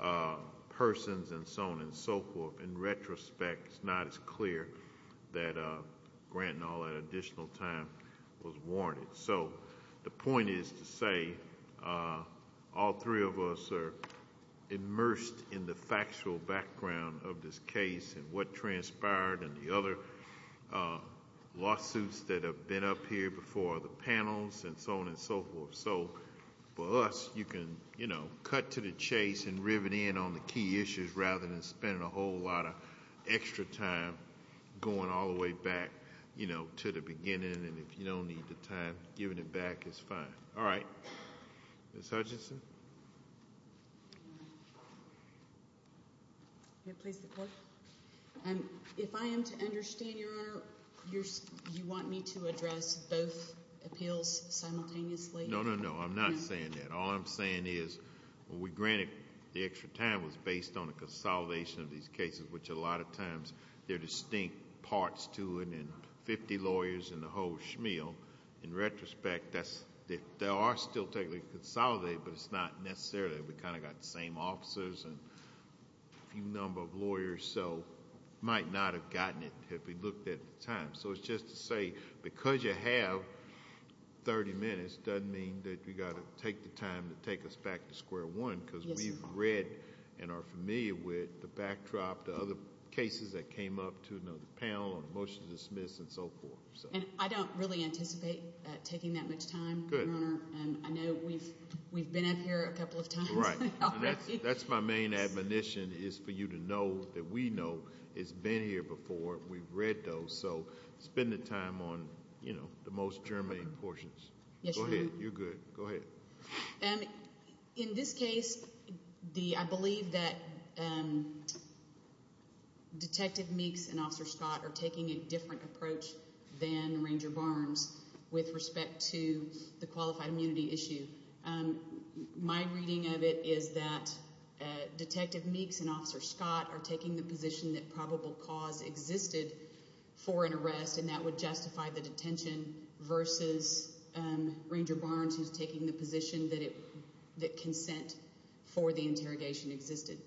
of persons and so on and so forth. In retrospect, it's not as clear that granting all that additional time was warranted. So the point is to say all three of us are immersed in the factual background of this case and what transpired and the other lawsuits that have been up here before the panels and so on and so forth. So for us, you can, you know, cut to the chase and rivet in on the key issues rather than spending a whole lot of extra time going all the way back, you know, to the beginning. And if you don't need the time, giving it back is fine. All right, Ms. Hutchinson. May I please have the floor? If I am to understand, Your Honor, you want me to address both appeals simultaneously? No, no, no. I'm not saying that. All I'm saying is when we granted the extra time was based on the consolidation of these cases, which a lot of times there are distinct parts to it and 50 lawyers and the whole shmeal. In retrospect, that's, they are still technically consolidated, but it's not necessarily. We kind of got the same officers and a few number of lawyers, so might not have gotten it if we looked at the time. So it's just to say, because you have 30 minutes, doesn't mean that you got to take the time to take us back to square one, because we've read and are familiar with the backdrop, the other cases that came up to another panel on a motion to dismiss and so forth. And I don't really anticipate taking that much time, Your Honor, and I know we've been up here a couple of times. Right. That's my main admonition is for you to know that we know it's been here before. We've read those, so it's been time on, you know, the most germane portions. Go ahead. You're good. Go ahead. In this case, I believe that Detective Meeks and Officer Scott are taking a different approach than Ranger Barnes with respect to the qualified immunity issue. My reading of it is that Detective Meeks and Officer Scott are taking the position that probable cause existed for an arrest and that would justify the detention versus Ranger Barnes who's taking the position that consent for the interrogation existed.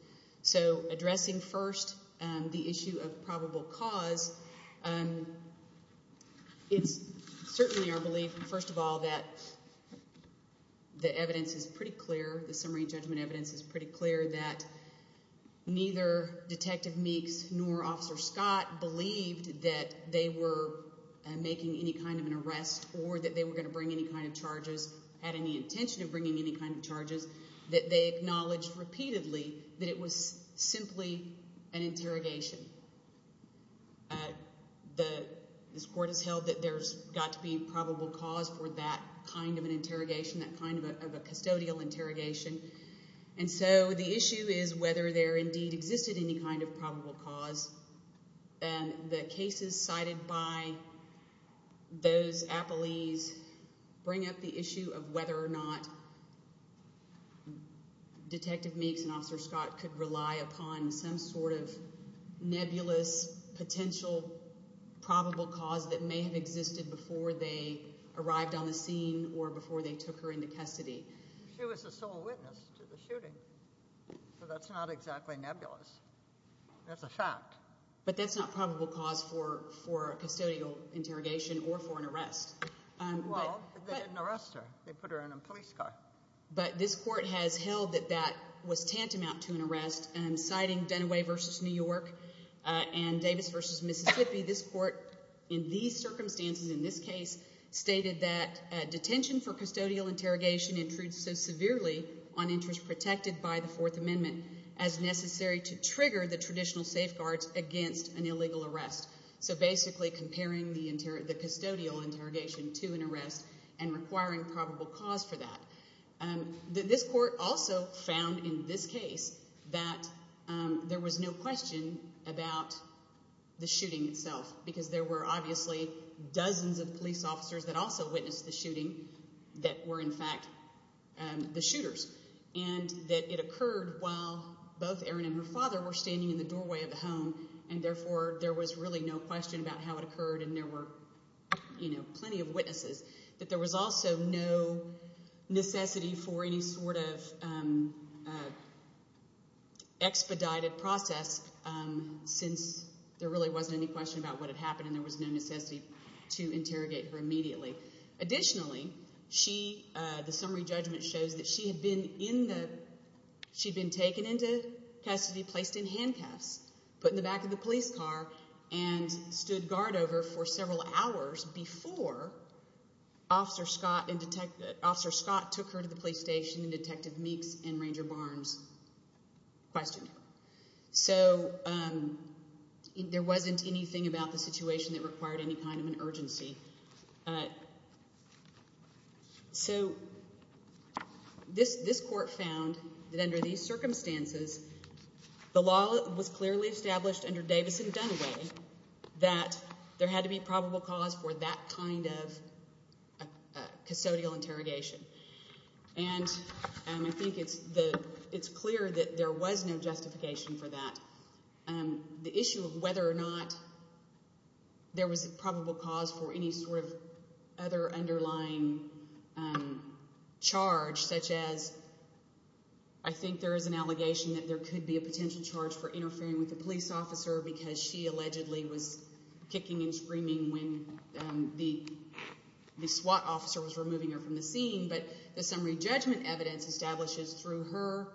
So addressing first the issue of probable cause, it's certainly our belief, first of all, that the evidence is pretty clear, the summary judgment evidence is pretty clear that neither Detective Meeks nor Officer Scott believed that they were making any kind of an arrest or that they were going to bring any kind of charges, had any intention of bringing any kind of charges, that they acknowledged repeatedly that it was simply an interrogation. This Court has held that there's got to be probable cause for that kind of an interrogation, that kind of a custodial interrogation. And so the issue is whether there indeed existed any kind of probable cause. And the cases cited by those appellees bring up the issue of whether or not Detective Meeks and Officer Scott could rely upon some sort of nebulous potential probable cause that may have existed before they arrived on the scene or before they took her into custody. She was the sole witness to the shooting, so that's not exactly nebulous. That's a fact. But that's not probable cause for a custodial interrogation or for an arrest. Well, they didn't arrest her. They put her in a police car. But this Court has held that that was tantamount to an arrest and I'm citing Dunaway versus New York and Davis versus Mississippi. This Court in these circumstances, in this case, stated that detention for custodial interrogation intrudes so severely on interest protected by the Fourth Amendment as necessary to trigger the traditional safeguards against an illegal arrest. So basically comparing the custodial interrogation to an arrest and requiring probable cause for that. This Court also found in this case that there was no question about the shooting itself because there were obviously dozens of police officers that also witnessed the shooting that were in fact the shooters and that it occurred while both Erin and her father were standing in the doorway of the home and therefore there was really no question about how it occurred and there were, you know, for any sort of expedited process since there really wasn't any question about what had happened and there was no necessity to interrogate her immediately. Additionally, the summary judgment shows that she had been in the, she'd been taken into custody, placed in handcuffs, put in the back of the police car and stood guard over for several hours before Officer Scott and Detective Officer Scott took her to the police station and Detective Meeks and Ranger Barnes questioned her. So there wasn't anything about the situation that required any kind of an urgency. So this Court found that under these circumstances the law was clearly established under Davis and Dunway that there had to be probable cause for that kind of custodial interrogation and I think it's clear that there was no justification for that. The issue of whether or not there was a probable cause for any sort of other underlying charge such as I think there is an allegation that there could be a potential charge for police officer because she allegedly was kicking and screaming when the SWAT officer was removing her from the scene, but the summary judgment evidence establishes through her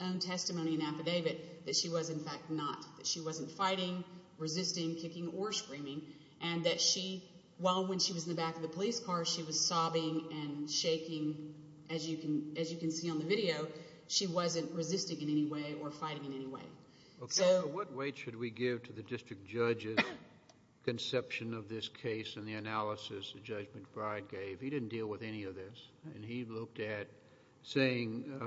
own testimony and affidavit that she was in fact not, that she wasn't fighting, resisting, kicking or screaming and that she, while when she was in the back of the police car she was sobbing and shaking as you can as you can see on the video, she wasn't resisting in any way or fighting in any way. Okay, so what weight should we give to the district judge's conception of this case and the analysis the Judge McBride gave? He didn't deal with any of this and he looked at saying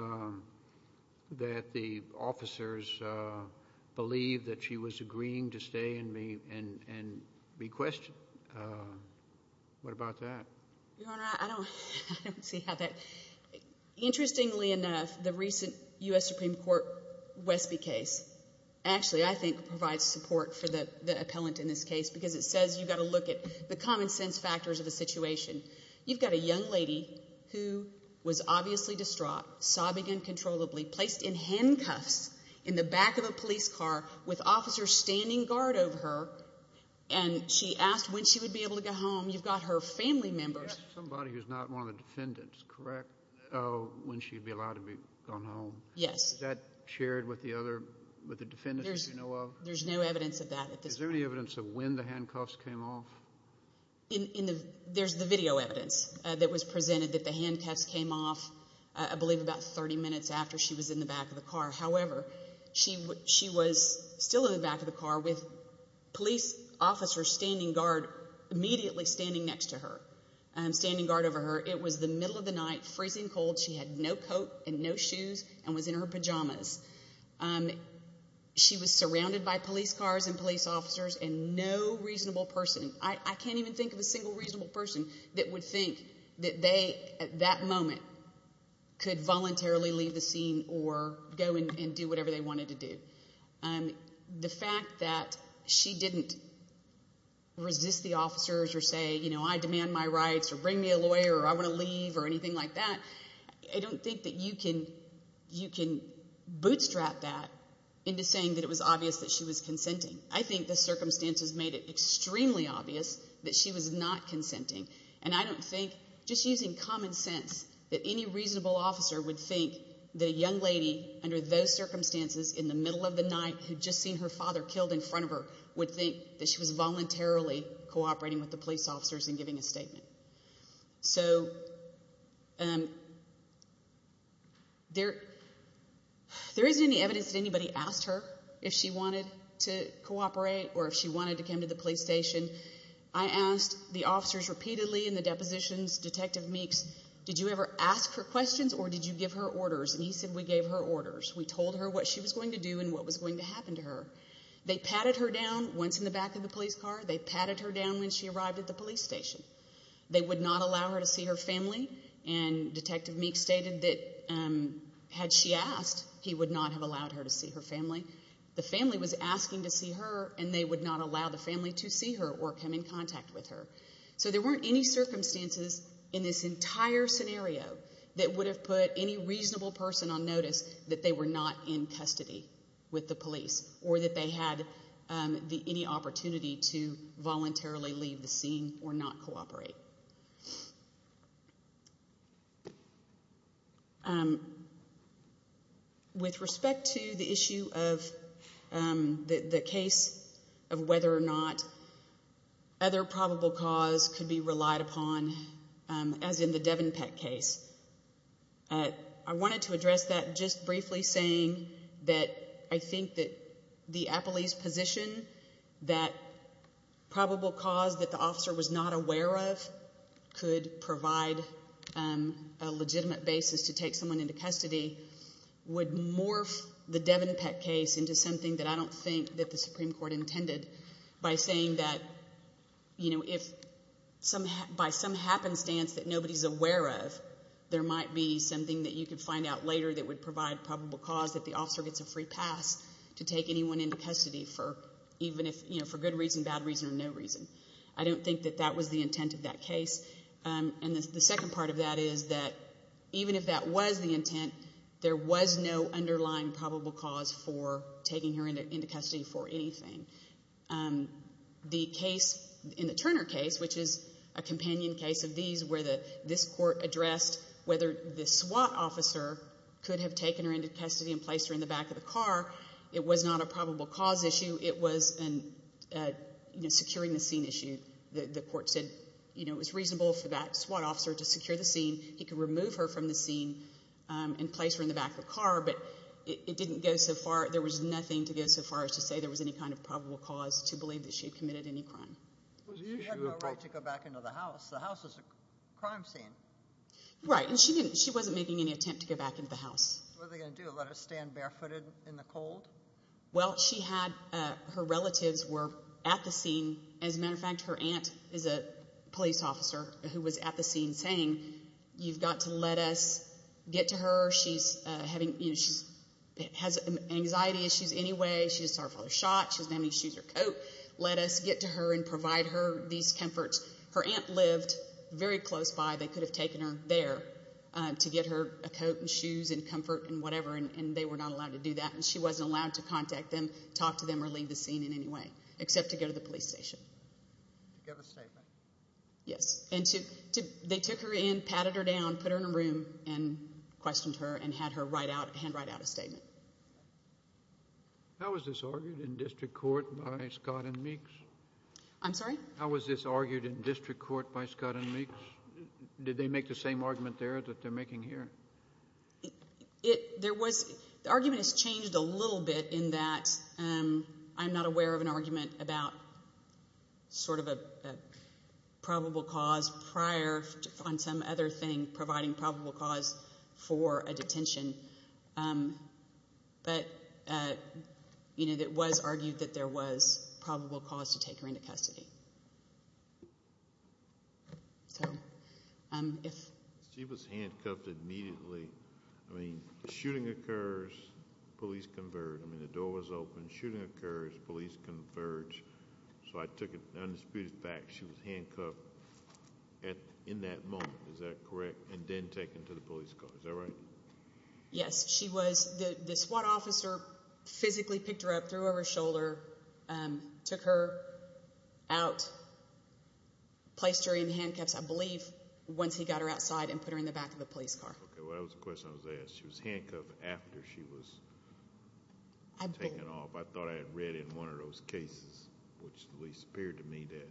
that the officers believed that she was agreeing to stay and be questioned. What about that? Your Honor, I don't see how that, interestingly enough, the recent U.S. Supreme Court Westby case actually I think provides support for the appellant in this case because it says you've got to look at the common sense factors of the situation. You've got a young lady who was obviously distraught, sobbing uncontrollably, placed in handcuffs in the back of a police car with officers standing guard over her and she asked when she would be able to go home. You've got her family members. Somebody who's not one of the defendants, correct, when she'd be allowed to go home. Yes. Is that shared with the defendants that you know of? There's no evidence of that. Is there any evidence of when the handcuffs came off? There's the video evidence that was presented that the handcuffs came off I believe about 30 minutes after she was in the back of the car. However, she was still in the back of the car with police officers standing guard immediately standing next to her, standing guard over her. It was the middle of the night, freezing cold. She had no coat and no shoes and was in her pajamas. She was surrounded by police cars and police officers and no reasonable person, I can't even think of a single reasonable person that would think that they at that moment could voluntarily leave the scene or go and do whatever they wanted to do. The fact that she didn't resist the officers or say you know I demand my rights or bring me a lawyer or I want to leave or anything like that, I don't think that you can bootstrap that into saying that it was obvious that she was consenting. I think the circumstances made it extremely obvious that she was not consenting and I don't think just using common sense that any reasonable officer would think that a young lady under those circumstances in the middle of the night who'd just seen her father killed in front of her would think that she was voluntarily cooperating with the police officers and giving a statement. There isn't any evidence that anybody asked her if she wanted to cooperate or if she wanted to come to the police station. I asked the officers repeatedly in the depositions, Detective Meeks, did you ever ask her questions or did you give her orders and he said we gave her orders. We told her what she was going to do and what was going to happen to her. They patted her down once in the police car. They patted her down when she arrived at the police station. They would not allow her to see her family and Detective Meeks stated that had she asked, he would not have allowed her to see her family. The family was asking to see her and they would not allow the family to see her or come in contact with her. So there weren't any circumstances in this entire scenario that would have put any reasonable person on notice that they were not in custody with the police or that they had any opportunity to voluntarily leave the scene or not cooperate. With respect to the issue of the case of whether or not other probable cause could be relied upon as in the Devon Peck case, I wanted to address that just briefly saying that I think that the police position that probable cause that the officer was not aware of could provide a legitimate basis to take someone into custody would morph the Devon Peck case into something that I don't think that the Supreme Court intended by saying that if by some happenstance that nobody's aware of, there might be something that you could find out later that would provide probable cause that the officer gets a free pass to take anyone into custody for good reason, bad reason, or no reason. I don't think that that was the intent of that case and the second part of that is that even if that was the intent, there was no underlying probable cause for taking her into custody for anything. In the Turner case, which is a companion case of these where this court addressed whether the SWAT officer could have taken her into custody and placed her in the back of the car, it was not a probable cause issue. It was a securing the scene issue. The court said it was reasonable for that SWAT officer to secure the scene. He could remove her from the scene and place her in the back of the car, but it didn't go so far. There was nothing to go so far as to say there was any kind of probable cause to believe that she committed any crime. She had no right to go back into the house. The house is a crime scene. Right, and she wasn't making any attempt to go back into the house. What are they going to do, let her stand barefooted in the cold? Well, her relatives were at the scene. As a matter of fact, her aunt is a police officer who was at the scene saying, you've got to let us get to her. She has anxiety issues anyway. She just saw her father shot. She doesn't have any shoes or coat. Let us get to her and provide her these comforts. Her aunt lived very close by. They could have taken her there to get her a coat and shoes and comfort and whatever, and they were not allowed to do that. She wasn't allowed to contact them, talk to them, or leave the scene in any way, except to go to the police station. Did you give a statement? Yes, and they took her in, patted her down, put her in a room, and questioned her and had her hand write out a statement. How was this argued in district court by Scott and Meeks? I'm sorry? How was this argued in district court by Scott and Meeks? Did they make the same argument there that they're making here? It, there was, the argument has changed a little bit in that I'm not aware of an argument about sort of a probable cause prior on some other thing providing probable cause for a detention. But, you know, it was argued that there was probable cause to take her into custody. So, if she was handcuffed immediately, I mean, the shooting occurs, police convert. I mean, the door was open, shooting occurs, police converge. So, I took it undisputed fact she was handcuffed at, in that moment. Is that correct? And then taken to the police car. Is that right? Yes, she was. The SWAT officer physically picked her up, threw her over her shoulder, took her out, placed her in handcuffs, I believe, once he got her outside and put her in the back of the police car. Okay, well, that was the question I was asked. She was handcuffed after she was taken off. I thought I had read in one of those cases, which at least appeared to me, that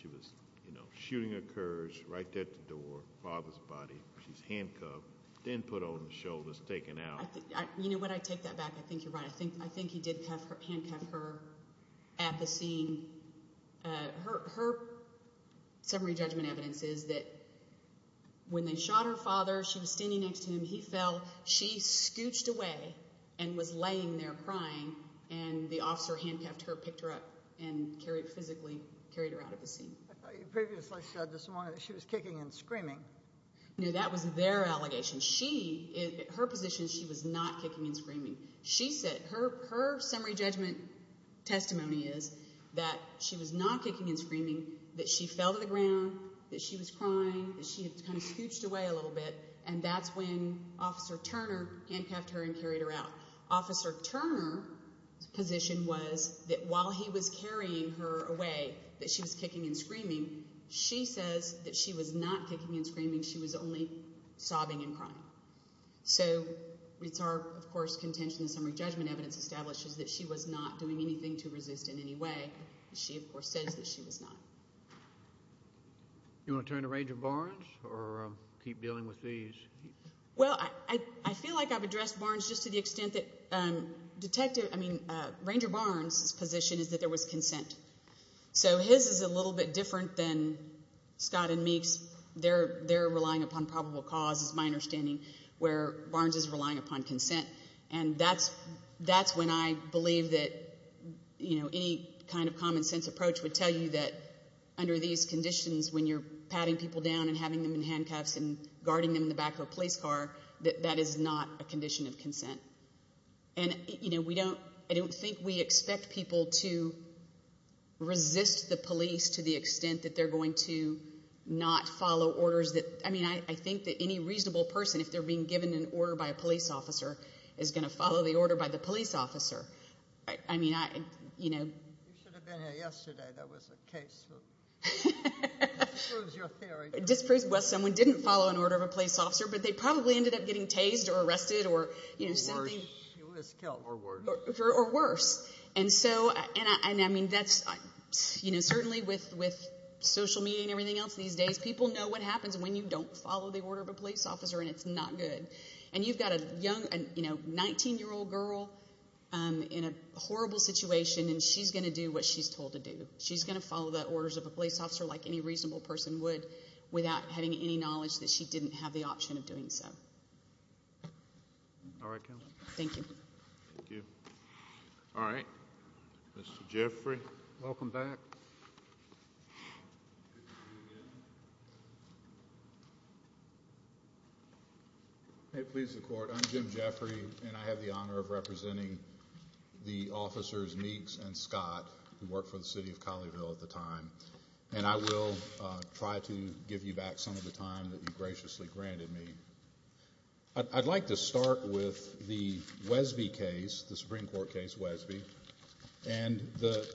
she was, you know, shooting occurs right at the door, father's body, she's handcuffed, then put over the shoulders, taken out. I think, you know, when I take that back, I think you're right. I think he did handcuff her at the scene. Her summary judgment evidence is that when they shot her father, she was standing next to him, he fell, she scooched away and was laying there crying, and the officer handcuffed her, picked her up, and carried physically, carried her out of the scene. I thought you previously said this morning that she was kicking and screaming. No, that was their allegation. She, her position, she was not kicking and screaming. She said, her summary judgment testimony is that she was not kicking and screaming, that she fell to the ground, that she was crying, that she had kind of scooched away a little bit, and that's when Officer Turner handcuffed her and carried her out. Officer Turner's position was that while he was kicking and screaming, she was only sobbing and crying. So, it's our, of course, contention, the summary judgment evidence establishes that she was not doing anything to resist in any way. She, of course, says that she was not. You want to turn to Ranger Barnes or keep dealing with these? Well, I feel like I've addressed Barnes just to the extent that Detective, I mean, Ranger Barnes' position is that there was consent. So, his is a little bit different than Scott and Meek's. They're relying upon probable cause, is my understanding, where Barnes is relying upon consent. And that's when I believe that, you know, any kind of common sense approach would tell you that under these conditions, when you're patting people down and having them in handcuffs and guarding them in the back of a police car, that that is not a condition of consent. And, you know, we don't, I don't think we expect people to resist the police to the extent that they're going to not follow orders that, I mean, I think that any reasonable person, if they're being given an order by a police officer, is going to follow the order by the police officer. I mean, I, you know. You should have been here yesterday. That was a case that disproves your theory. Disproves, well, someone didn't follow an order of a police officer, but they probably ended up getting tased or arrested or, you know, something. Or worse. And so, and I mean, that's, you know, certainly with social media and everything else these days, people know what happens when you don't follow the order of a police officer, and it's not good. And you've got a young, you know, 19-year-old girl in a horrible situation, and she's going to do what she's told to do. She's going to follow the orders of a police officer like any reasonable person would, without having any knowledge that she didn't have the option of doing so. All right. Thank you. Thank you. All right. Mr. Jeffrey, welcome back. May it please the Court. I'm Jim Jeffrey, and I have the honor of representing the officers Meeks and Scott, who worked for the City of Collierville at the time. And I will try to give you back some of the time that you graciously granted me. I'd like to start with the Wesby case, the Supreme Court case Wesby, and the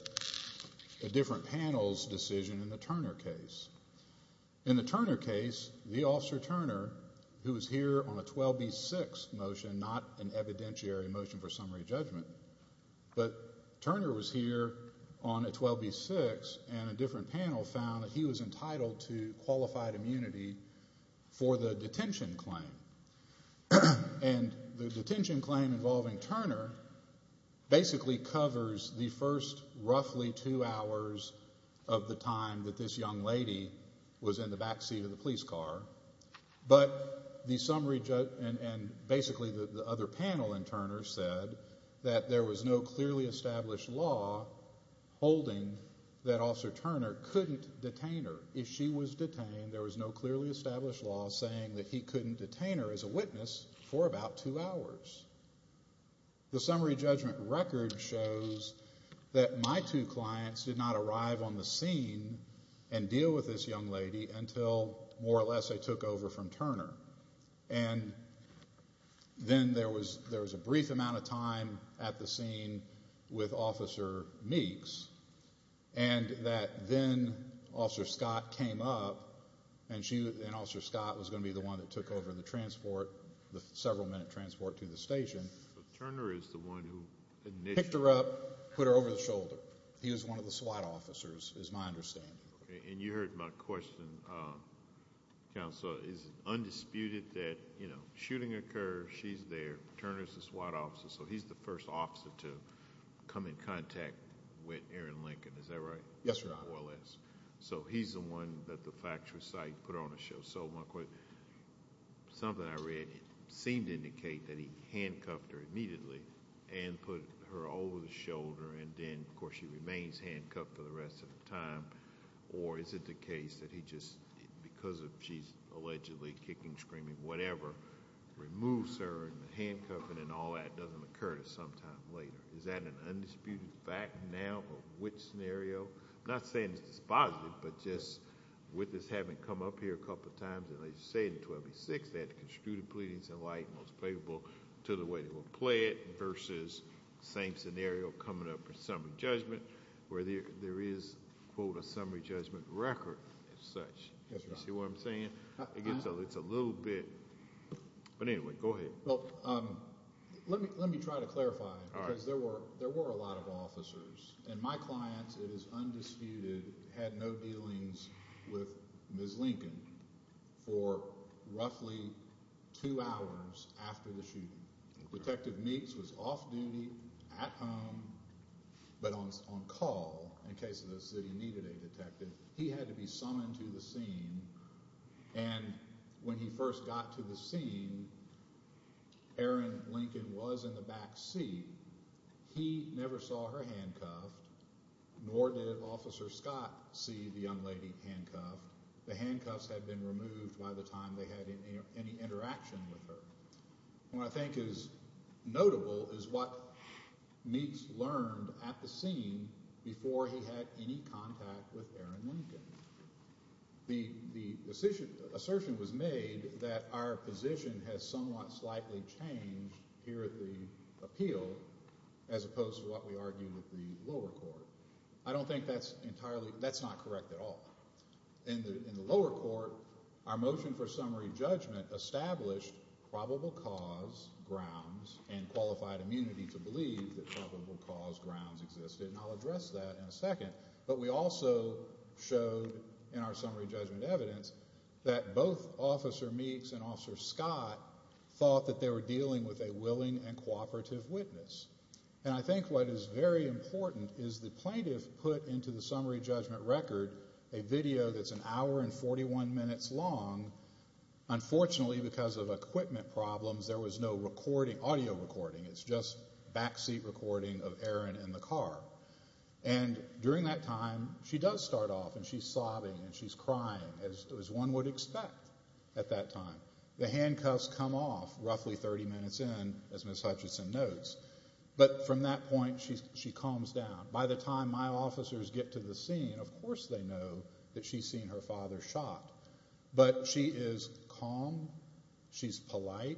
different panel's decision in the Turner case. In the Turner case, the Officer Turner, who was here on a 12B6 motion, not an evidentiary motion for summary judgment, but Turner was here on a 12B6, and a different panel found that he was entitled to qualified immunity for the detention claim. And the detention claim involving Turner basically covers the first roughly two hours of the time that this young lady was in the back seat of the police car. But the summary, and basically the other panel in Turner said that there was no clearly established law holding that Officer Turner couldn't detain her. If she was detained, there was no clearly established law saying that he couldn't detain her as a witness for about two hours. The summary judgment record shows that my two clients did not arrive on the scene and deal with this young lady until more or less they took over from Turner. And then there was a brief amount of time at the scene with Officer Meeks, and that then Officer Scott came up, and Officer Scott was going to be the one that took over the transport, the several minute transport to the station. So Turner is the one who initially... Picked her up, put her over the shoulder. He was one of the SWAT officers, is my understanding. And you heard my question, Counsel, it's undisputed that, you know, shooting occurs, she's there, Turner's the SWAT officer, so he's the first officer to come in contact with Erin Lincoln, is that right? Yes, Your Honor. More or less. So he's the one that the factual site put on the show. So my question, something I read, it seemed to indicate that he handcuffed her immediately and put her over the shoulder, and then of course she remains handcuffed for the rest of the time. Or is it the case that he just, because of she's allegedly kicking, screaming, whatever, removes her and the handcuffing and all that doesn't occur to Is that an undisputed fact now, or which scenario? I'm not saying it's dispositive, but just with this having come up here a couple of times, and they say in 1286, that construted pleadings in light most favorable to the way they will play it versus same scenario coming up for summary judgment, where there is, quote, a summary judgment record as such. Yes, Your Honor. You see what I'm saying? It's a little bit, but anyway, go ahead. Well, let me try to clarify, because there were a lot of officers, and my clients, it is undisputed, had no dealings with Ms. Lincoln for roughly two hours after the shooting. Detective Meeks was off duty at home, but on call, in case the city needed a detective, he had to be summoned to the scene, and when he first got to the scene, Erin Lincoln was in the back seat. He never saw her handcuffed, nor did Officer Scott see the young lady handcuffed. The handcuffs had been removed by the time they had any interaction with her. What I think is notable is what Meeks learned at the scene before he had any contact with Erin Lincoln. The assertion was made that our position has somewhat slightly changed here at the appeal as opposed to what we argue with the lower court. I don't think that's entirely, that's not correct at all. In the lower court, our motion for summary judgment established probable cause grounds and qualified immunity to believe that probable cause grounds existed, and I'll address that in a second, but we also showed in our summary judgment evidence that both Officer Meeks and Officer Scott thought that they were dealing with a willing and cooperative witness, and I think what is very important is the plaintiff put into the summary judgment record a video that's an hour and 41 minutes long. Unfortunately, because of equipment problems, there was no audio recording. It's just backseat recording of Erin in the car, and during that time, she does start off and she's sobbing and she's crying as one would expect at that time. The handcuffs come off roughly 30 minutes in, as Ms. Hutchison notes, but from that point, she calms down. By the time my officers get to the scene, of course they know that she's seen her father shot, but she is calm, she's polite,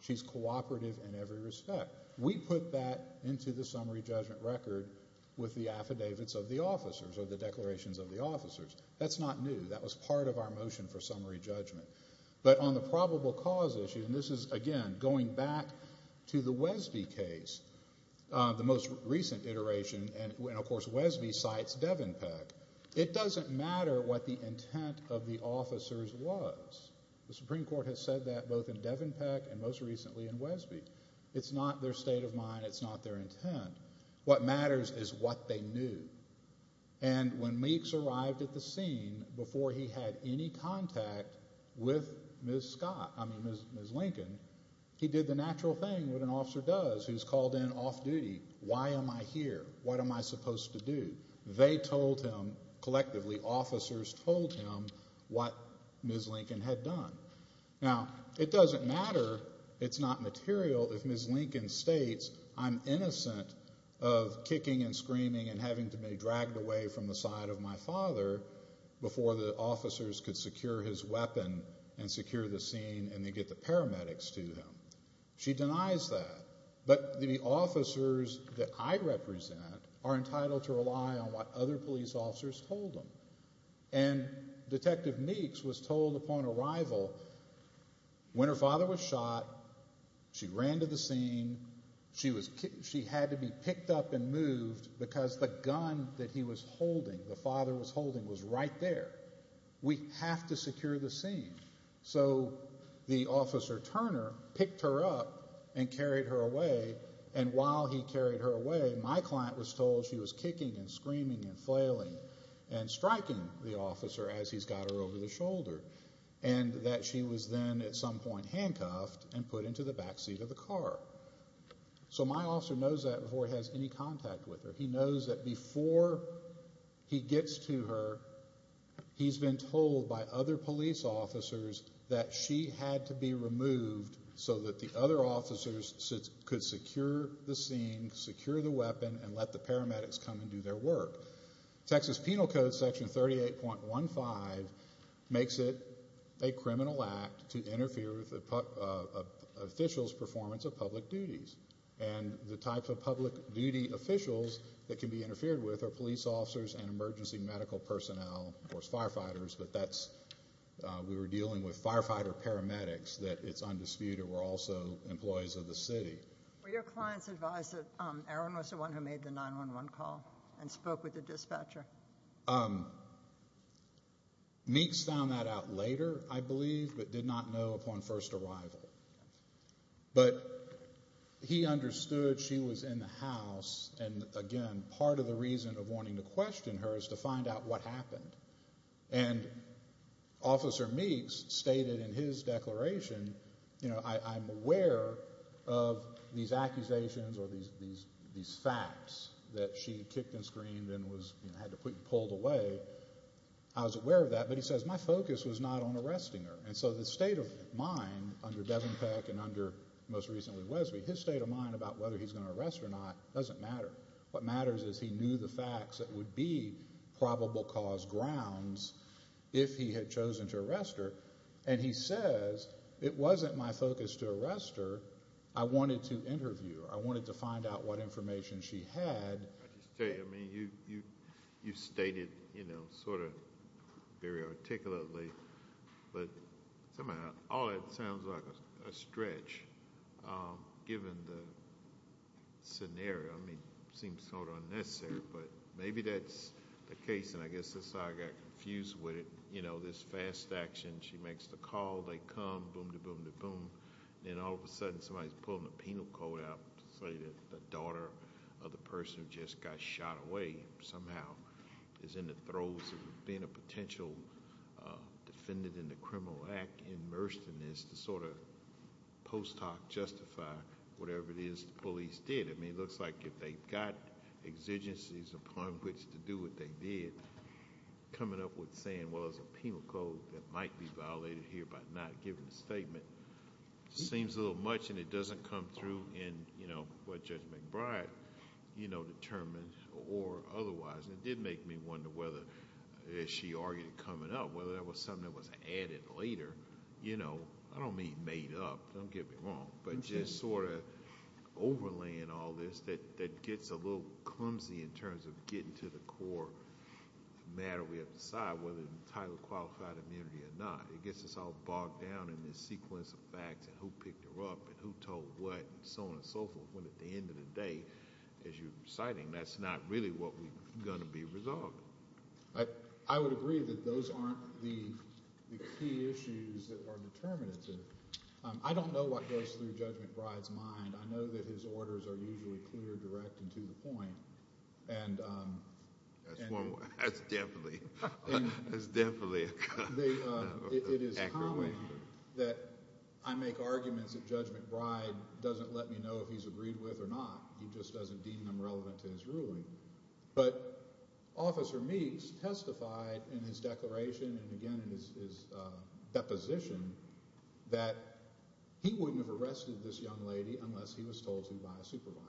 she's cooperative in every respect. We put that into the summary judgment record with the affidavits of the officers or the declarations of the officers. That's not new. That was part of our motion for summary judgment, but on the probable cause issue, and this is, again, going back to the Wesby case, the most recent iteration, and of course, the intent of the officers was. The Supreme Court has said that both in Devon Peck and most recently in Wesby. It's not their state of mind. It's not their intent. What matters is what they knew, and when Meeks arrived at the scene before he had any contact with Ms. Scott, I mean Ms. Lincoln, he did the natural thing what an officer does, who's called in off duty. Why am I here? What am I supposed to do? They told him, collectively, officers told him what Ms. Lincoln had done. Now, it doesn't matter, it's not material, if Ms. Lincoln states I'm innocent of kicking and screaming and having to be dragged away from the side of my father before the officers could secure his weapon and secure the scene and they get the paramedics to him. She denies that, but the are entitled to rely on what other police officers told them, and Detective Meeks was told upon arrival when her father was shot, she ran to the scene, she had to be picked up and moved because the gun that he was holding, the father was holding, was right there. We have to secure the scene, so the officer Turner picked her up and carried her away, and while he carried her away, my client was told she was kicking and screaming and flailing and striking the officer as he's got her over the shoulder, and that she was then at some point handcuffed and put into the back seat of the car. So my officer knows that before he has any contact with her. He knows that before he gets to her, he's been told by other police officers that she had to be removed so that the other officers could secure the scene, secure the weapon, and let the paramedics come and do their work. Texas Penal Code Section 38.15 makes it a criminal act to interfere with an official's performance of public duties, and the types of public duty officials that can be interfered with are police officers and emergency medical personnel, of course firefighters, but we were employees of the city. Were your clients advised that Aaron was the one who made the 911 call and spoke with the dispatcher? Meeks found that out later, I believe, but did not know upon first arrival, but he understood she was in the house, and again, part of the reason of wanting to question her is to find out what happened, and Officer Meeks stated in his declaration, you know, I'm aware of these accusations or these facts that she kicked and screamed and was, you know, had to be pulled away. I was aware of that, but he says my focus was not on arresting her, and so the state of mind under Devenpeck and under, most recently, Wesby, his state of mind about whether he's going to arrest or not doesn't matter. What matters is he knew the facts that would be probable cause grounds if he had chosen to arrest her, and he says it wasn't my focus to arrest her. I wanted to interview her. I wanted to find out what information she had. I just tell you, I mean, you stated, you know, sort of very articulately, but somehow all it sounds like a stretch given the scenario. I mean, it seems sort of unnecessary, but maybe that's the case, and I guess that's how I got confused with it. You know, this fast action, she makes the call, they come, boom to boom to boom, then all of a sudden somebody's pulling a penal code out to say that the daughter of the person who just got shot away somehow is in the throes of being a potential defendant in the criminal act, immersed in this, to sort of post hoc justify whatever it is the police did. I mean, it looks like if they've got exigencies upon which to do what they did, coming up with saying, well, it's a penal code that might be violated here by not giving a statement seems a little much, and it doesn't come through in, you know, what Judge McBride, you know, made me wonder whether, as she argued coming up, whether that was something that was added later. You know, I don't mean made up, don't get me wrong, but just sort of overlaying all this, that gets a little clumsy in terms of getting to the core matter we have to decide whether the title qualified immunity or not. It gets us all bogged down in this sequence of facts, and who picked her up, and who told what, and so on and so forth, when at the end of the day, as you're citing, that's not really what we're going to be resolving. I would agree that those aren't the key issues that are determinative. I don't know what goes through Judge McBride's mind. I know that his orders are usually clear, direct, and to the point, and... That's definitely, that's definitely... It is common that I make arguments that Judge McBride doesn't let me know if he's agreed with or not. He just doesn't deem them relevant to his ruling, but Officer Meeks testified in his declaration, and again in his deposition, that he wouldn't have arrested this young lady unless he was told to by a supervisor,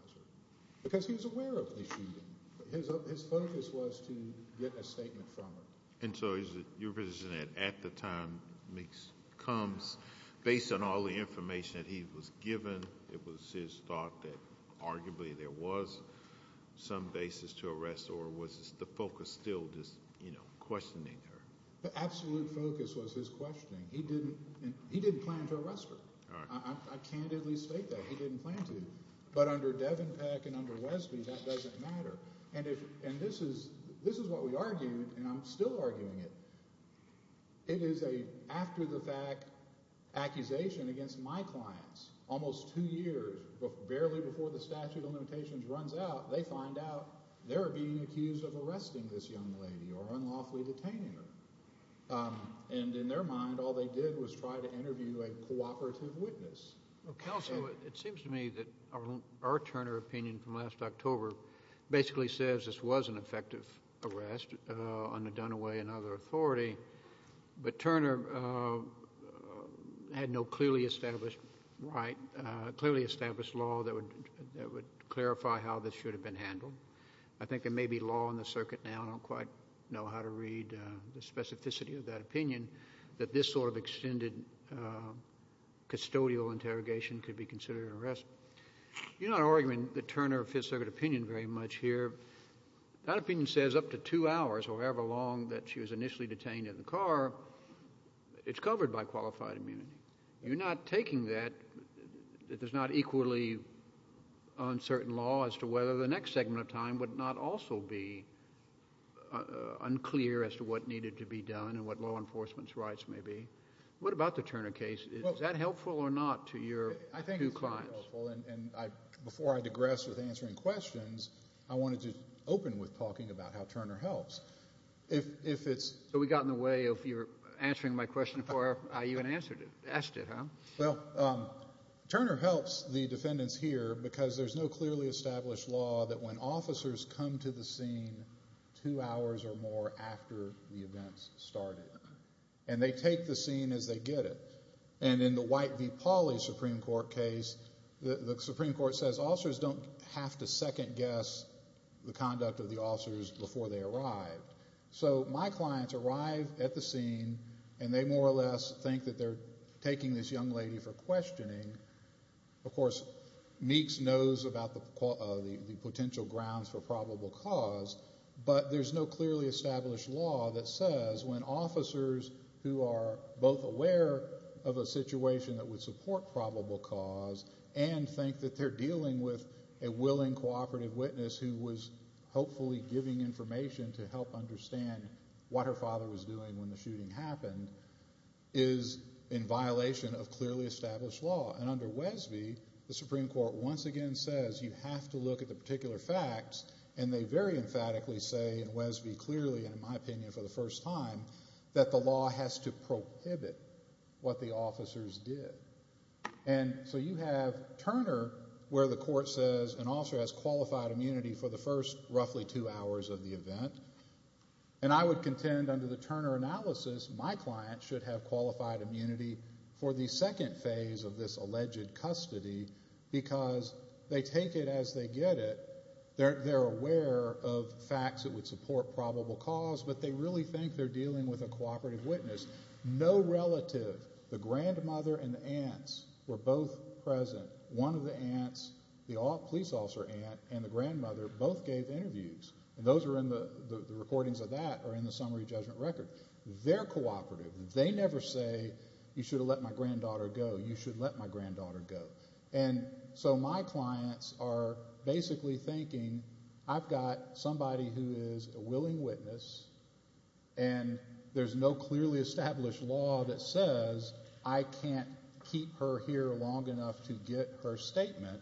because he was aware of the shooting. His focus was to get a statement from her. And so is it your position that at the time Meeks comes, based on all the information that was given, it was his thought that arguably there was some basis to arrest, or was the focus still just, you know, questioning her? The absolute focus was his questioning. He didn't plan to arrest her. I candidly state that. He didn't plan to. But under Devenpeck and under Wesby, that doesn't matter. And this is what we argued, and I'm still arguing it. It is an after-the-fact accusation against my clients. Almost two years, barely before the statute of limitations runs out, they find out they're being accused of arresting this young lady or unlawfully detaining her. And in their mind, all they did was try to interview a cooperative witness. Counsel, it seems to me that our Turner opinion from last October basically says this was an effective arrest on the Dunaway and no clearly established right, clearly established law that would that would clarify how this should have been handled. I think there may be law on the circuit now, and I don't quite know how to read the specificity of that opinion, that this sort of extended custodial interrogation could be considered an arrest. You're not arguing the Turner Fifth Circuit opinion very much here. That opinion says up to two hours, or however long that she was initially detained in the car, it's covered by qualified immunity. You're not taking that, that there's not equally on certain law as to whether the next segment of time would not also be unclear as to what needed to be done and what law enforcement's rights may be. What about the Turner case? Is that helpful or not to your two clients? I think it's helpful, and before I digress with answering questions, I wanted to open with talking about how Turner helps. So we got in the way of your answering my question before I even asked it, huh? Well, Turner helps the defendants here because there's no clearly established law that when officers come to the scene two hours or more after the events started, and they take the scene as they get it. And in the White v. Pauley Supreme Court case, the Supreme Court says officers don't have to second guess the conduct of the officers before they arrive. So my clients arrive at the scene, and they more or less think that they're taking this young lady for questioning. Of course, Meeks knows about the potential grounds for probable cause, but there's no clearly established law that says when officers who are both aware of a situation that would support probable cause and think that they're dealing with a willing cooperative witness who was hopefully giving information to help understand what her father was doing when the shooting happened is in violation of clearly established law. And under Wesby, the Supreme Court once again says you have to look at the particular facts, and they very emphatically say in Wesby clearly, and in my opinion for the first time, that the law has to prohibit what the officers did. And so you have Turner where the court says an officer has qualified immunity for the first roughly two hours of the event. And I would contend under the Turner analysis, my client should have qualified immunity for the second phase of this alleged custody because they take it as they get it. They're aware of facts that would support probable cause, but they really think they're dealing with a cooperative witness. No relative, the grandmother and the aunts, were both present. One of the aunts, the police officer aunt and the grandmother both gave interviews, and those are in the recordings of that or in the summary judgment record. They're cooperative. They never say you should have let my granddaughter go. You should let my granddaughter go. And so my clients are basically thinking I've got somebody who is a willing witness, and there's no clearly established law that says I can't keep her here long enough to get her statement.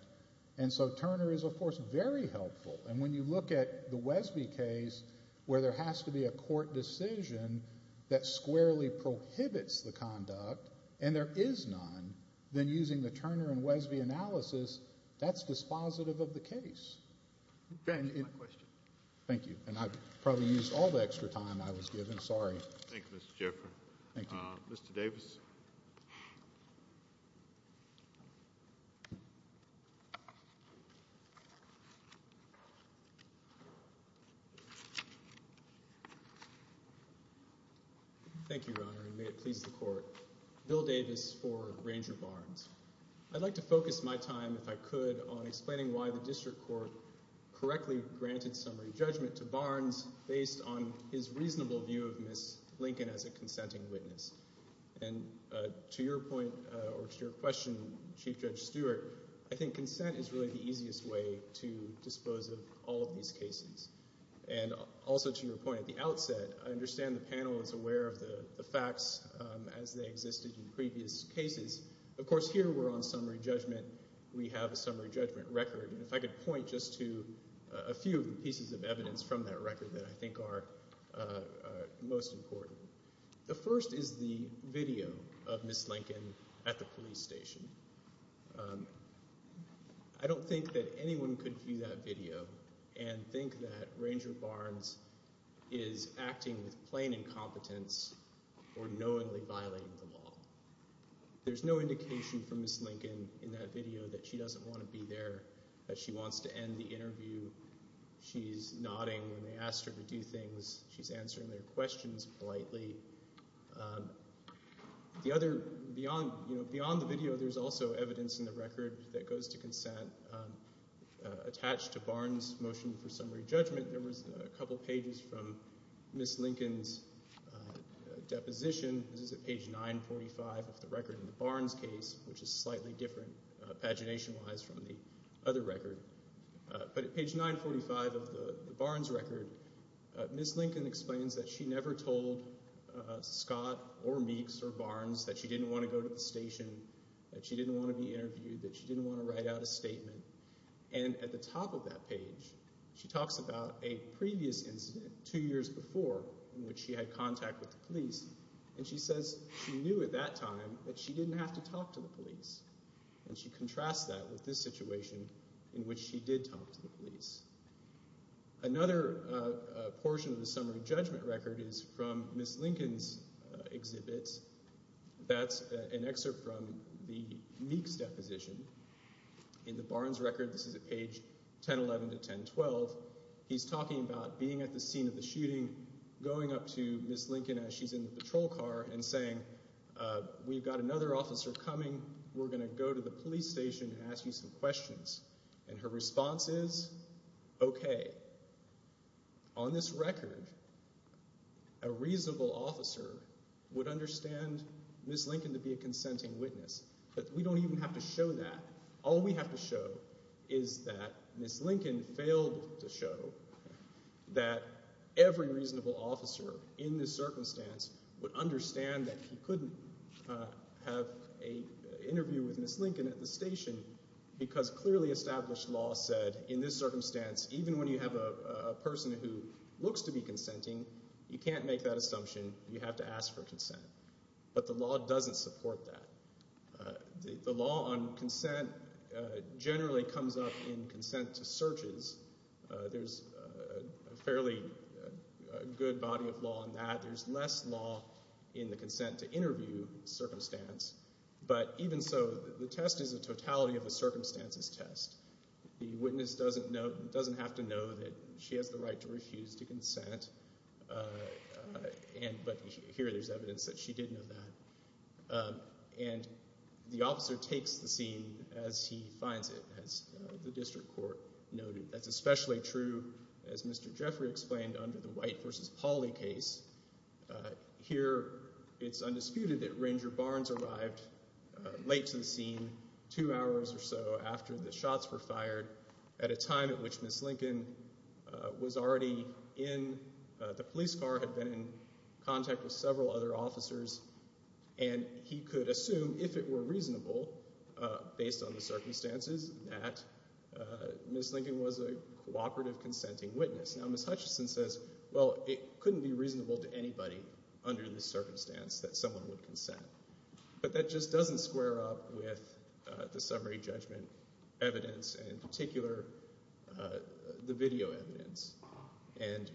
And so Turner is of course very helpful. And when you look at the Wesby case where there has to be a court decision that squarely prohibits the conduct, and there is none, then using the Turner and Wesby analysis, that's dispositive of the case. Thank you. And I've probably used all the extra time I was given. Sorry. Thank you, Mr. Jeffery. Mr. Davis. Thank you, Your Honor, and may it please the Court. Bill Davis for Ranger Barnes. I'd like to focus my could on explaining why the District Court correctly granted summary judgment to Barnes based on his reasonable view of Ms. Lincoln as a consenting witness. And to your point or to your question, Chief Judge Stewart, I think consent is really the easiest way to dispose of all of these cases. And also to your point at the outset, I understand the panel is aware of the facts as they existed in previous cases. Of course here we're on summary judgment. We have a summary judgment record. And if I could point just to a few pieces of evidence from that record that I think are most important. The first is the video of Ms. Lincoln at the police station. I don't think that anyone could view that video and think that Ranger Barnes is acting with violating the law. There's no indication from Ms. Lincoln in that video that she doesn't want to be there, that she wants to end the interview. She's nodding when they asked her to do things. She's answering their questions politely. Beyond the video, there's also evidence in the record that goes to consent attached to Barnes' motion for summary judgment. There was a couple pages from Ms. Lincoln's deposition. This is at page 945 of the record in the Barnes case, which is slightly different pagination-wise from the other record. But at page 945 of the Barnes record, Ms. Lincoln explains that she never told Scott or Meeks or Barnes that she didn't want to go to the station, that she didn't want to be interviewed, that she didn't want to write out a statement. And at the top of that page, she talks about a previous incident two years before in which she had contact with the police, and she says she knew at that time that she didn't have to talk to the police. And she contrasts that with this situation in which she did talk to the police. Another portion of the summary judgment record is from Ms. Lincoln's exhibit. That's an excerpt from the Meeks' deposition in the Barnes record. This is at page 1011 to 1012. He's talking about being at the scene of the shooting, going up to Ms. Lincoln as she's in the patrol car, and saying, we've got another officer coming. We're going to go to the police station and ask you some questions. And her response is, okay. On this record, a reasonable officer would understand Ms. Lincoln to be a consenting witness, but we don't even have to show that. All we have to show is that Ms. Lincoln failed to show that every reasonable officer in this circumstance would understand that he couldn't have an interview with Ms. Lincoln at the station because clearly established law said, in this circumstance, even when you have a person who looks to be consenting, you can't make that statement, you can't support that. The law on consent generally comes up in consent to searches. There's a fairly good body of law on that. There's less law in the consent to interview circumstance, but even so, the test is a totality of the circumstances test. The witness doesn't have to know that she has the right to refuse to consent, but here there's evidence that she did know that. And the officer takes the scene as he finds it, as the district court noted. That's especially true, as Mr. Jeffrey explained, under the White v. Pauley case. Here it's undisputed that Ranger Barnes arrived late to the scene, two hours or so after the shots were fired, at a time at which Ms. Lincoln, the police car, had been in contact with several other officers, and he could assume, if it were reasonable, based on the circumstances, that Ms. Lincoln was a cooperative consenting witness. Now Ms. Hutchison says, well, it couldn't be reasonable to anybody under this circumstance that someone would consent, but that just doesn't square up with the summary judgment evidence, and in particular, the video evidence. And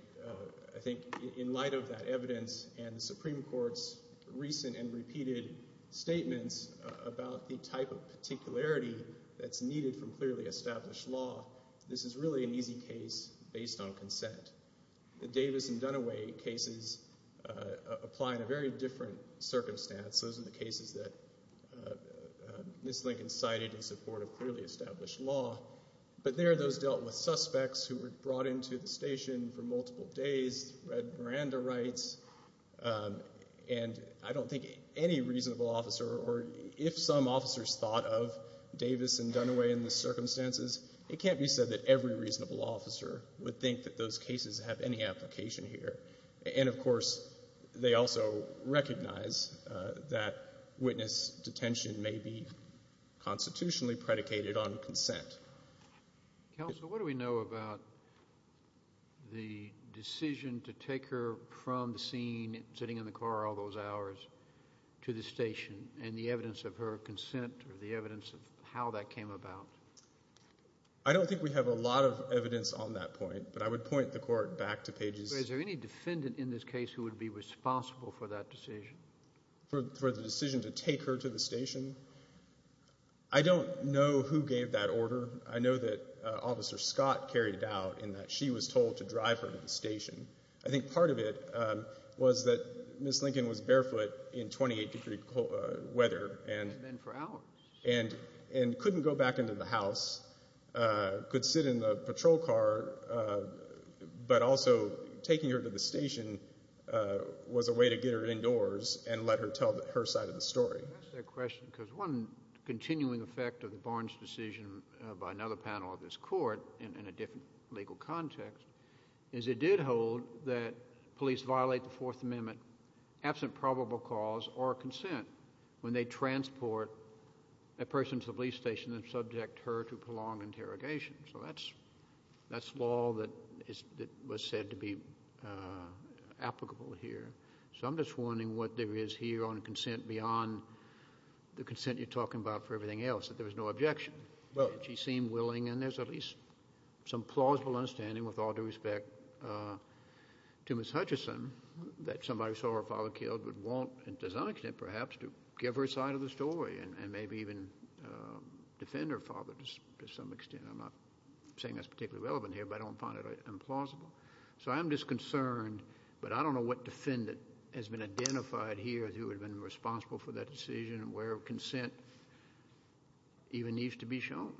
I think in light of that evidence and the Supreme Court's recent and repeated statements about the type of particularity that's needed from clearly established law, this is really an easy case based on consent. The Davis and Dunaway cases apply in a very different circumstance. Those are the cases that Ms. Lincoln cited in support of clearly established law, but there those dealt with suspects who were brought into the station for multiple days, read Miranda rights, and I don't think any reasonable officer, or if some officers thought of Davis and Dunaway in the circumstances, it can't be said that every reasonable officer would think that those cases have any application here. And of course, they also recognize that constitutionally predicated on consent. Counsel, what do we know about the decision to take her from the scene, sitting in the car all those hours, to the station, and the evidence of her consent, or the evidence of how that came about? I don't think we have a lot of evidence on that point, but I would point the Court back to pages... Is there any defendant in this case who would be stationed? I don't know who gave that order. I know that Officer Scott carried it out, in that she was told to drive her to the station. I think part of it was that Ms. Lincoln was barefoot in 28 degree weather, and couldn't go back into the house, could sit in the patrol car, but also taking her to the station was a way to get her indoors and let her tell her side of the question. Because one continuing effect of the Barnes decision by another panel of this Court, in a different legal context, is it did hold that police violate the Fourth Amendment, absent probable cause or consent, when they transport a person to the police station and subject her to prolonged interrogation. So that's law that was said to be applicable here. So I'm just wondering what there is here on consent, beyond the consent you're talking about for everything else, that there was no objection. She seemed willing, and there's at least some plausible understanding, with all due respect to Ms. Hutchison, that somebody saw her father killed would want, to some extent perhaps, to give her side of the story, and maybe even defend her father to some extent. I'm not saying that's particularly relevant here, but I don't find it implausible. So I'm just concerned, but I don't know what defendant has been identified here who would have been responsible for that decision, and where consent even needs to be shown.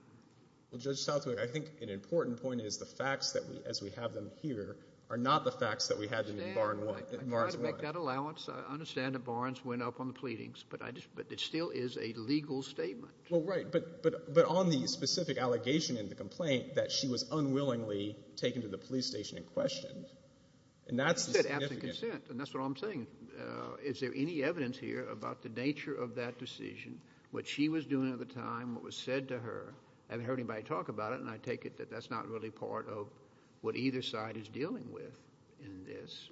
Well, Judge Southwick, I think an important point is the facts that we, as we have them here, are not the facts that we had in Barnes 1. I try to make that allowance. I understand that Barnes went up on the pleadings, but I just, but it still is a legal statement. Well, right, but on the specific allegation in the complaint that she was unwillingly taken to the police station and questioned, and that's the significant... You said absent consent, and that's what I'm saying. Is there any evidence here about the nature of that decision, what she was doing at the time, what was said to her? I haven't heard anybody talk about it, and I take it that that's not really part of what either side is dealing with in this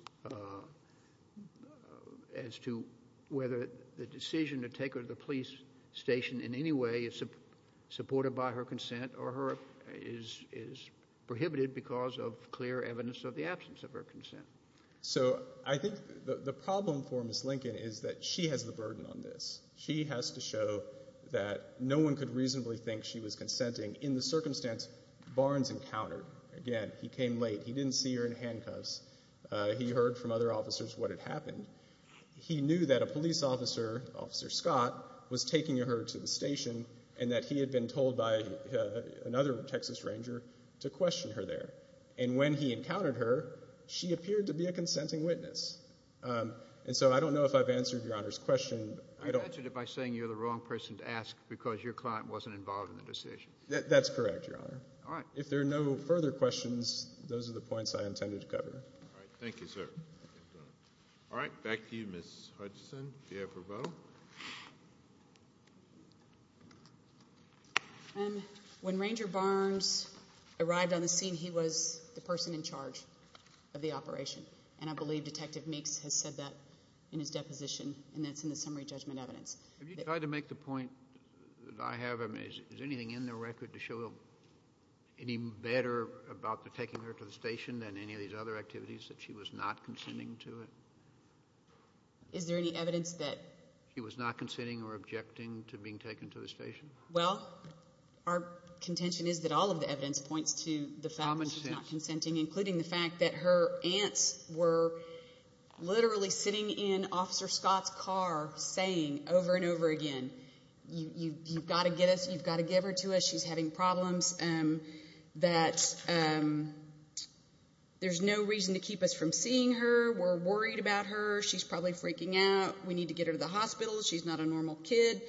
as to whether the decision to take her to the police station in any way is supported by her consent or is prohibited because of clear evidence of the absence of her consent. So I think the problem for Ms. Lincoln is that she has the burden on this. She has to show that no one could reasonably think she was consenting in the circumstance Barnes encountered. Again, he came late. He didn't see her in handcuffs. He heard from other officers what had happened. He knew that a police officer, Officer Scott, was taking her to the station and that he had been told by another Texas Ranger to question her there. And when he encountered her, she appeared to be a consenting witness. And so I don't know if I've answered Your Honor's question. You've answered it by saying you're the wrong person to ask because your client wasn't involved in the decision. That's correct, Your Honor. All right. If there are no further questions, those are the points I intended to cover. All right. Thank you, sir. All right. Back to you, Ms. Hutchison. Do you have a vote? When Ranger Barnes arrived on the scene, he was the person in charge of the operation. And I believe Detective Meeks has said that in his deposition and that's in the summary judgment evidence. Have you tried to make the point that I have? I mean, is anything in the record to show any better about the taking her to the station than any of these other activities that she was not consenting to it? Is there any evidence that she was not consenting or objecting to being taken to the station? Well, our contention is that all of the evidence points to the fact that she's not consenting, including the fact that her aunts were literally sitting in Officer Scott's car saying over and over again, you've got to get us, you've got to give her to us, she's having problems, that there's no reason to keep us from seeing her, we're worried about her, she's probably freaking out, we need to get her to the hospital, she's not a normal kid,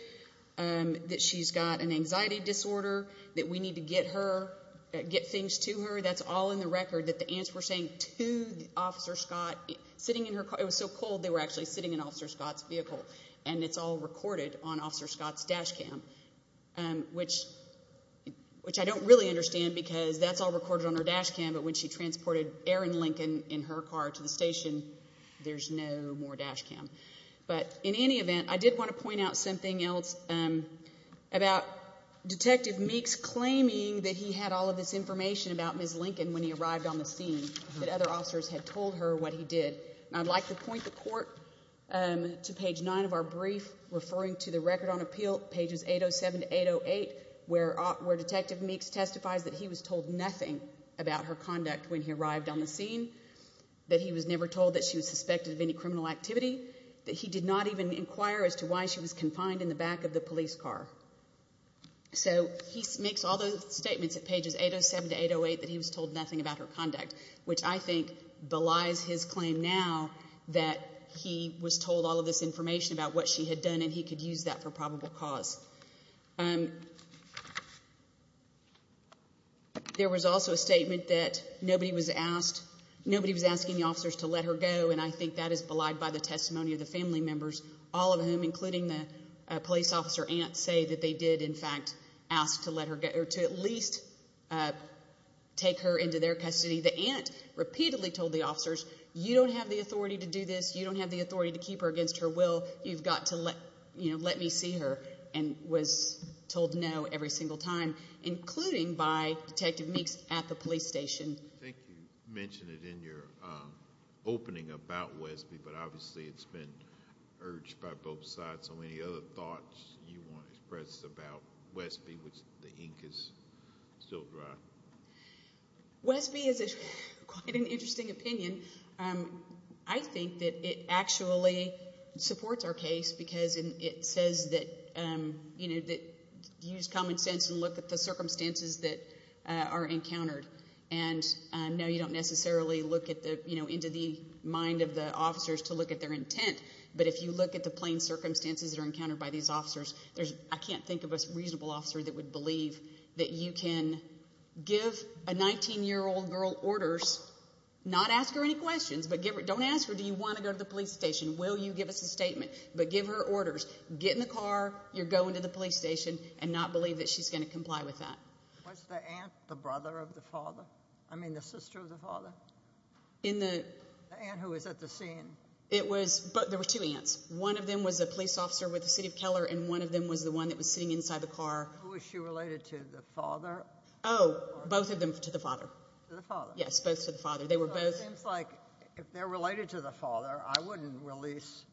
that she's got an anxiety disorder, that we need to get her, get things to her. That's all in the record that the aunts were saying to Officer Scott, sitting in her car, it was so cold they were actually sitting in Officer Scott's vehicle and it's all recorded on Officer Scott's dash cam, which I don't really understand because that's all recorded on her dash cam, but when she transported Erin Lincoln in her car to the station, there's no more dash cam. But in any event, I did want to point out something else about Detective Meeks claiming that he had all of this information about Ms. Lincoln when he that other officers had told her what he did. I'd like to point the court to page nine of our brief referring to the record on appeal, pages 807 to 808, where Detective Meeks testifies that he was told nothing about her conduct when he arrived on the scene, that he was never told that she was suspected of any criminal activity, that he did not even inquire as to why she was confined in the back of the police car. So he makes all those statements at pages 807 to 808 that he was told nothing about her conduct, which I think belies his claim now that he was told all of this information about what she had done and he could use that for probable cause. There was also a statement that nobody was asked, nobody was asking the officers to let her go and I think that is belied by the testimony of the family members, all of whom, including the police officer aunt, say that they did in fact ask to at least take her into their custody. The aunt repeatedly told the officers you don't have the authority to do this, you don't have the authority to keep her against her will, you've got to let me see her and was told no every single time, including by Detective Meeks at the police station. I think you mentioned it in your opening about you want to express about Westby, which the ink is still dry. Westby is a quite an interesting opinion. I think that it actually supports our case because it says that, you know, that use common sense and look at the circumstances that are encountered and no, you don't necessarily look at the, you know, into the mind of the officers to look at their intent, but if you at the plain circumstances that are encountered by these officers, there's, I can't think of a reasonable officer that would believe that you can give a 19-year-old girl orders, not ask her any questions, but don't ask her do you want to go to the police station, will you give us a statement, but give her orders, get in the car, you're going to the police station and not believe that she's going to comply with that. Was the aunt the brother of the father, I mean the sister of the father? The aunt who was at the scene? It was, but there were two aunts. One of them was a police officer with the city of Keller and one of them was the one that was sitting inside the car. Who was she related to, the father? Oh, both of them to the father. To the father? Yes, both to the father. It seems like if they're related to the father, I wouldn't release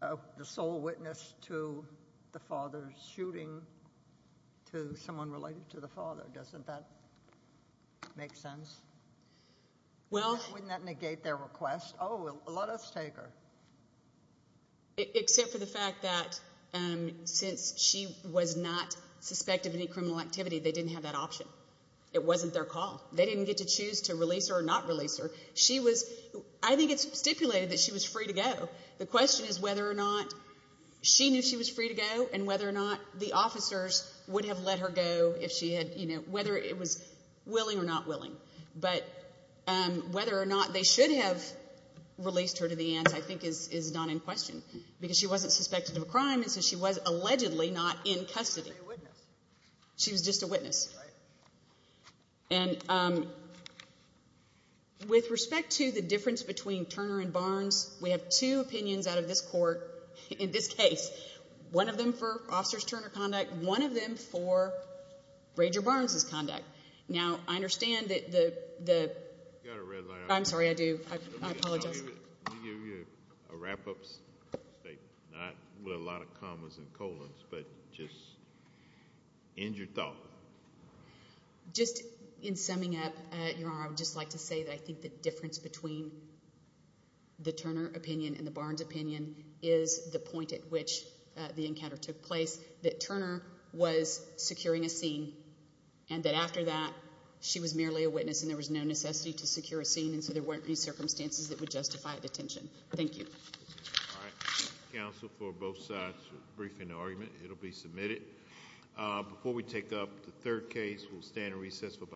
the sole witness to the father shooting to someone related to the father. Doesn't that make sense? Well, wouldn't that negate their request? Oh, let us take her. Except for the fact that since she was not suspected of any criminal activity, they didn't have that option. It wasn't their call. They didn't get to choose to release her or not release her. She was, I think it's stipulated that she was or not. She knew she was free to go and whether or not the officers would have let her go if she had, you know, whether it was willing or not willing. But whether or not they should have released her to the aunts, I think is not in question because she wasn't suspected of a crime and so she was allegedly not in custody. She was just a witness. And with respect to the difference between Turner and Barnes, we have two opinions out of this court in this case. One of them for Officer Turner's conduct, one of them for Rager Barnes's conduct. Now, I understand that the... You've got a red line. I'm sorry, I do. I apologize. Let me give you a wrap-up statement, not with a lot of commas and colons, but just end your thought. Just in summing up, Your Honor, I would just like to say that I think the difference between the Turner opinion and the Barnes opinion is the point at which the encounter took place. That Turner was securing a scene and that after that she was merely a witness and there was no necessity to secure a scene and so there weren't any circumstances that would justify a detention. Thank you. All right. Counsel, for both sides, brief in the argument. It'll be submitted. Before we take up the third case, we'll stand in recess for...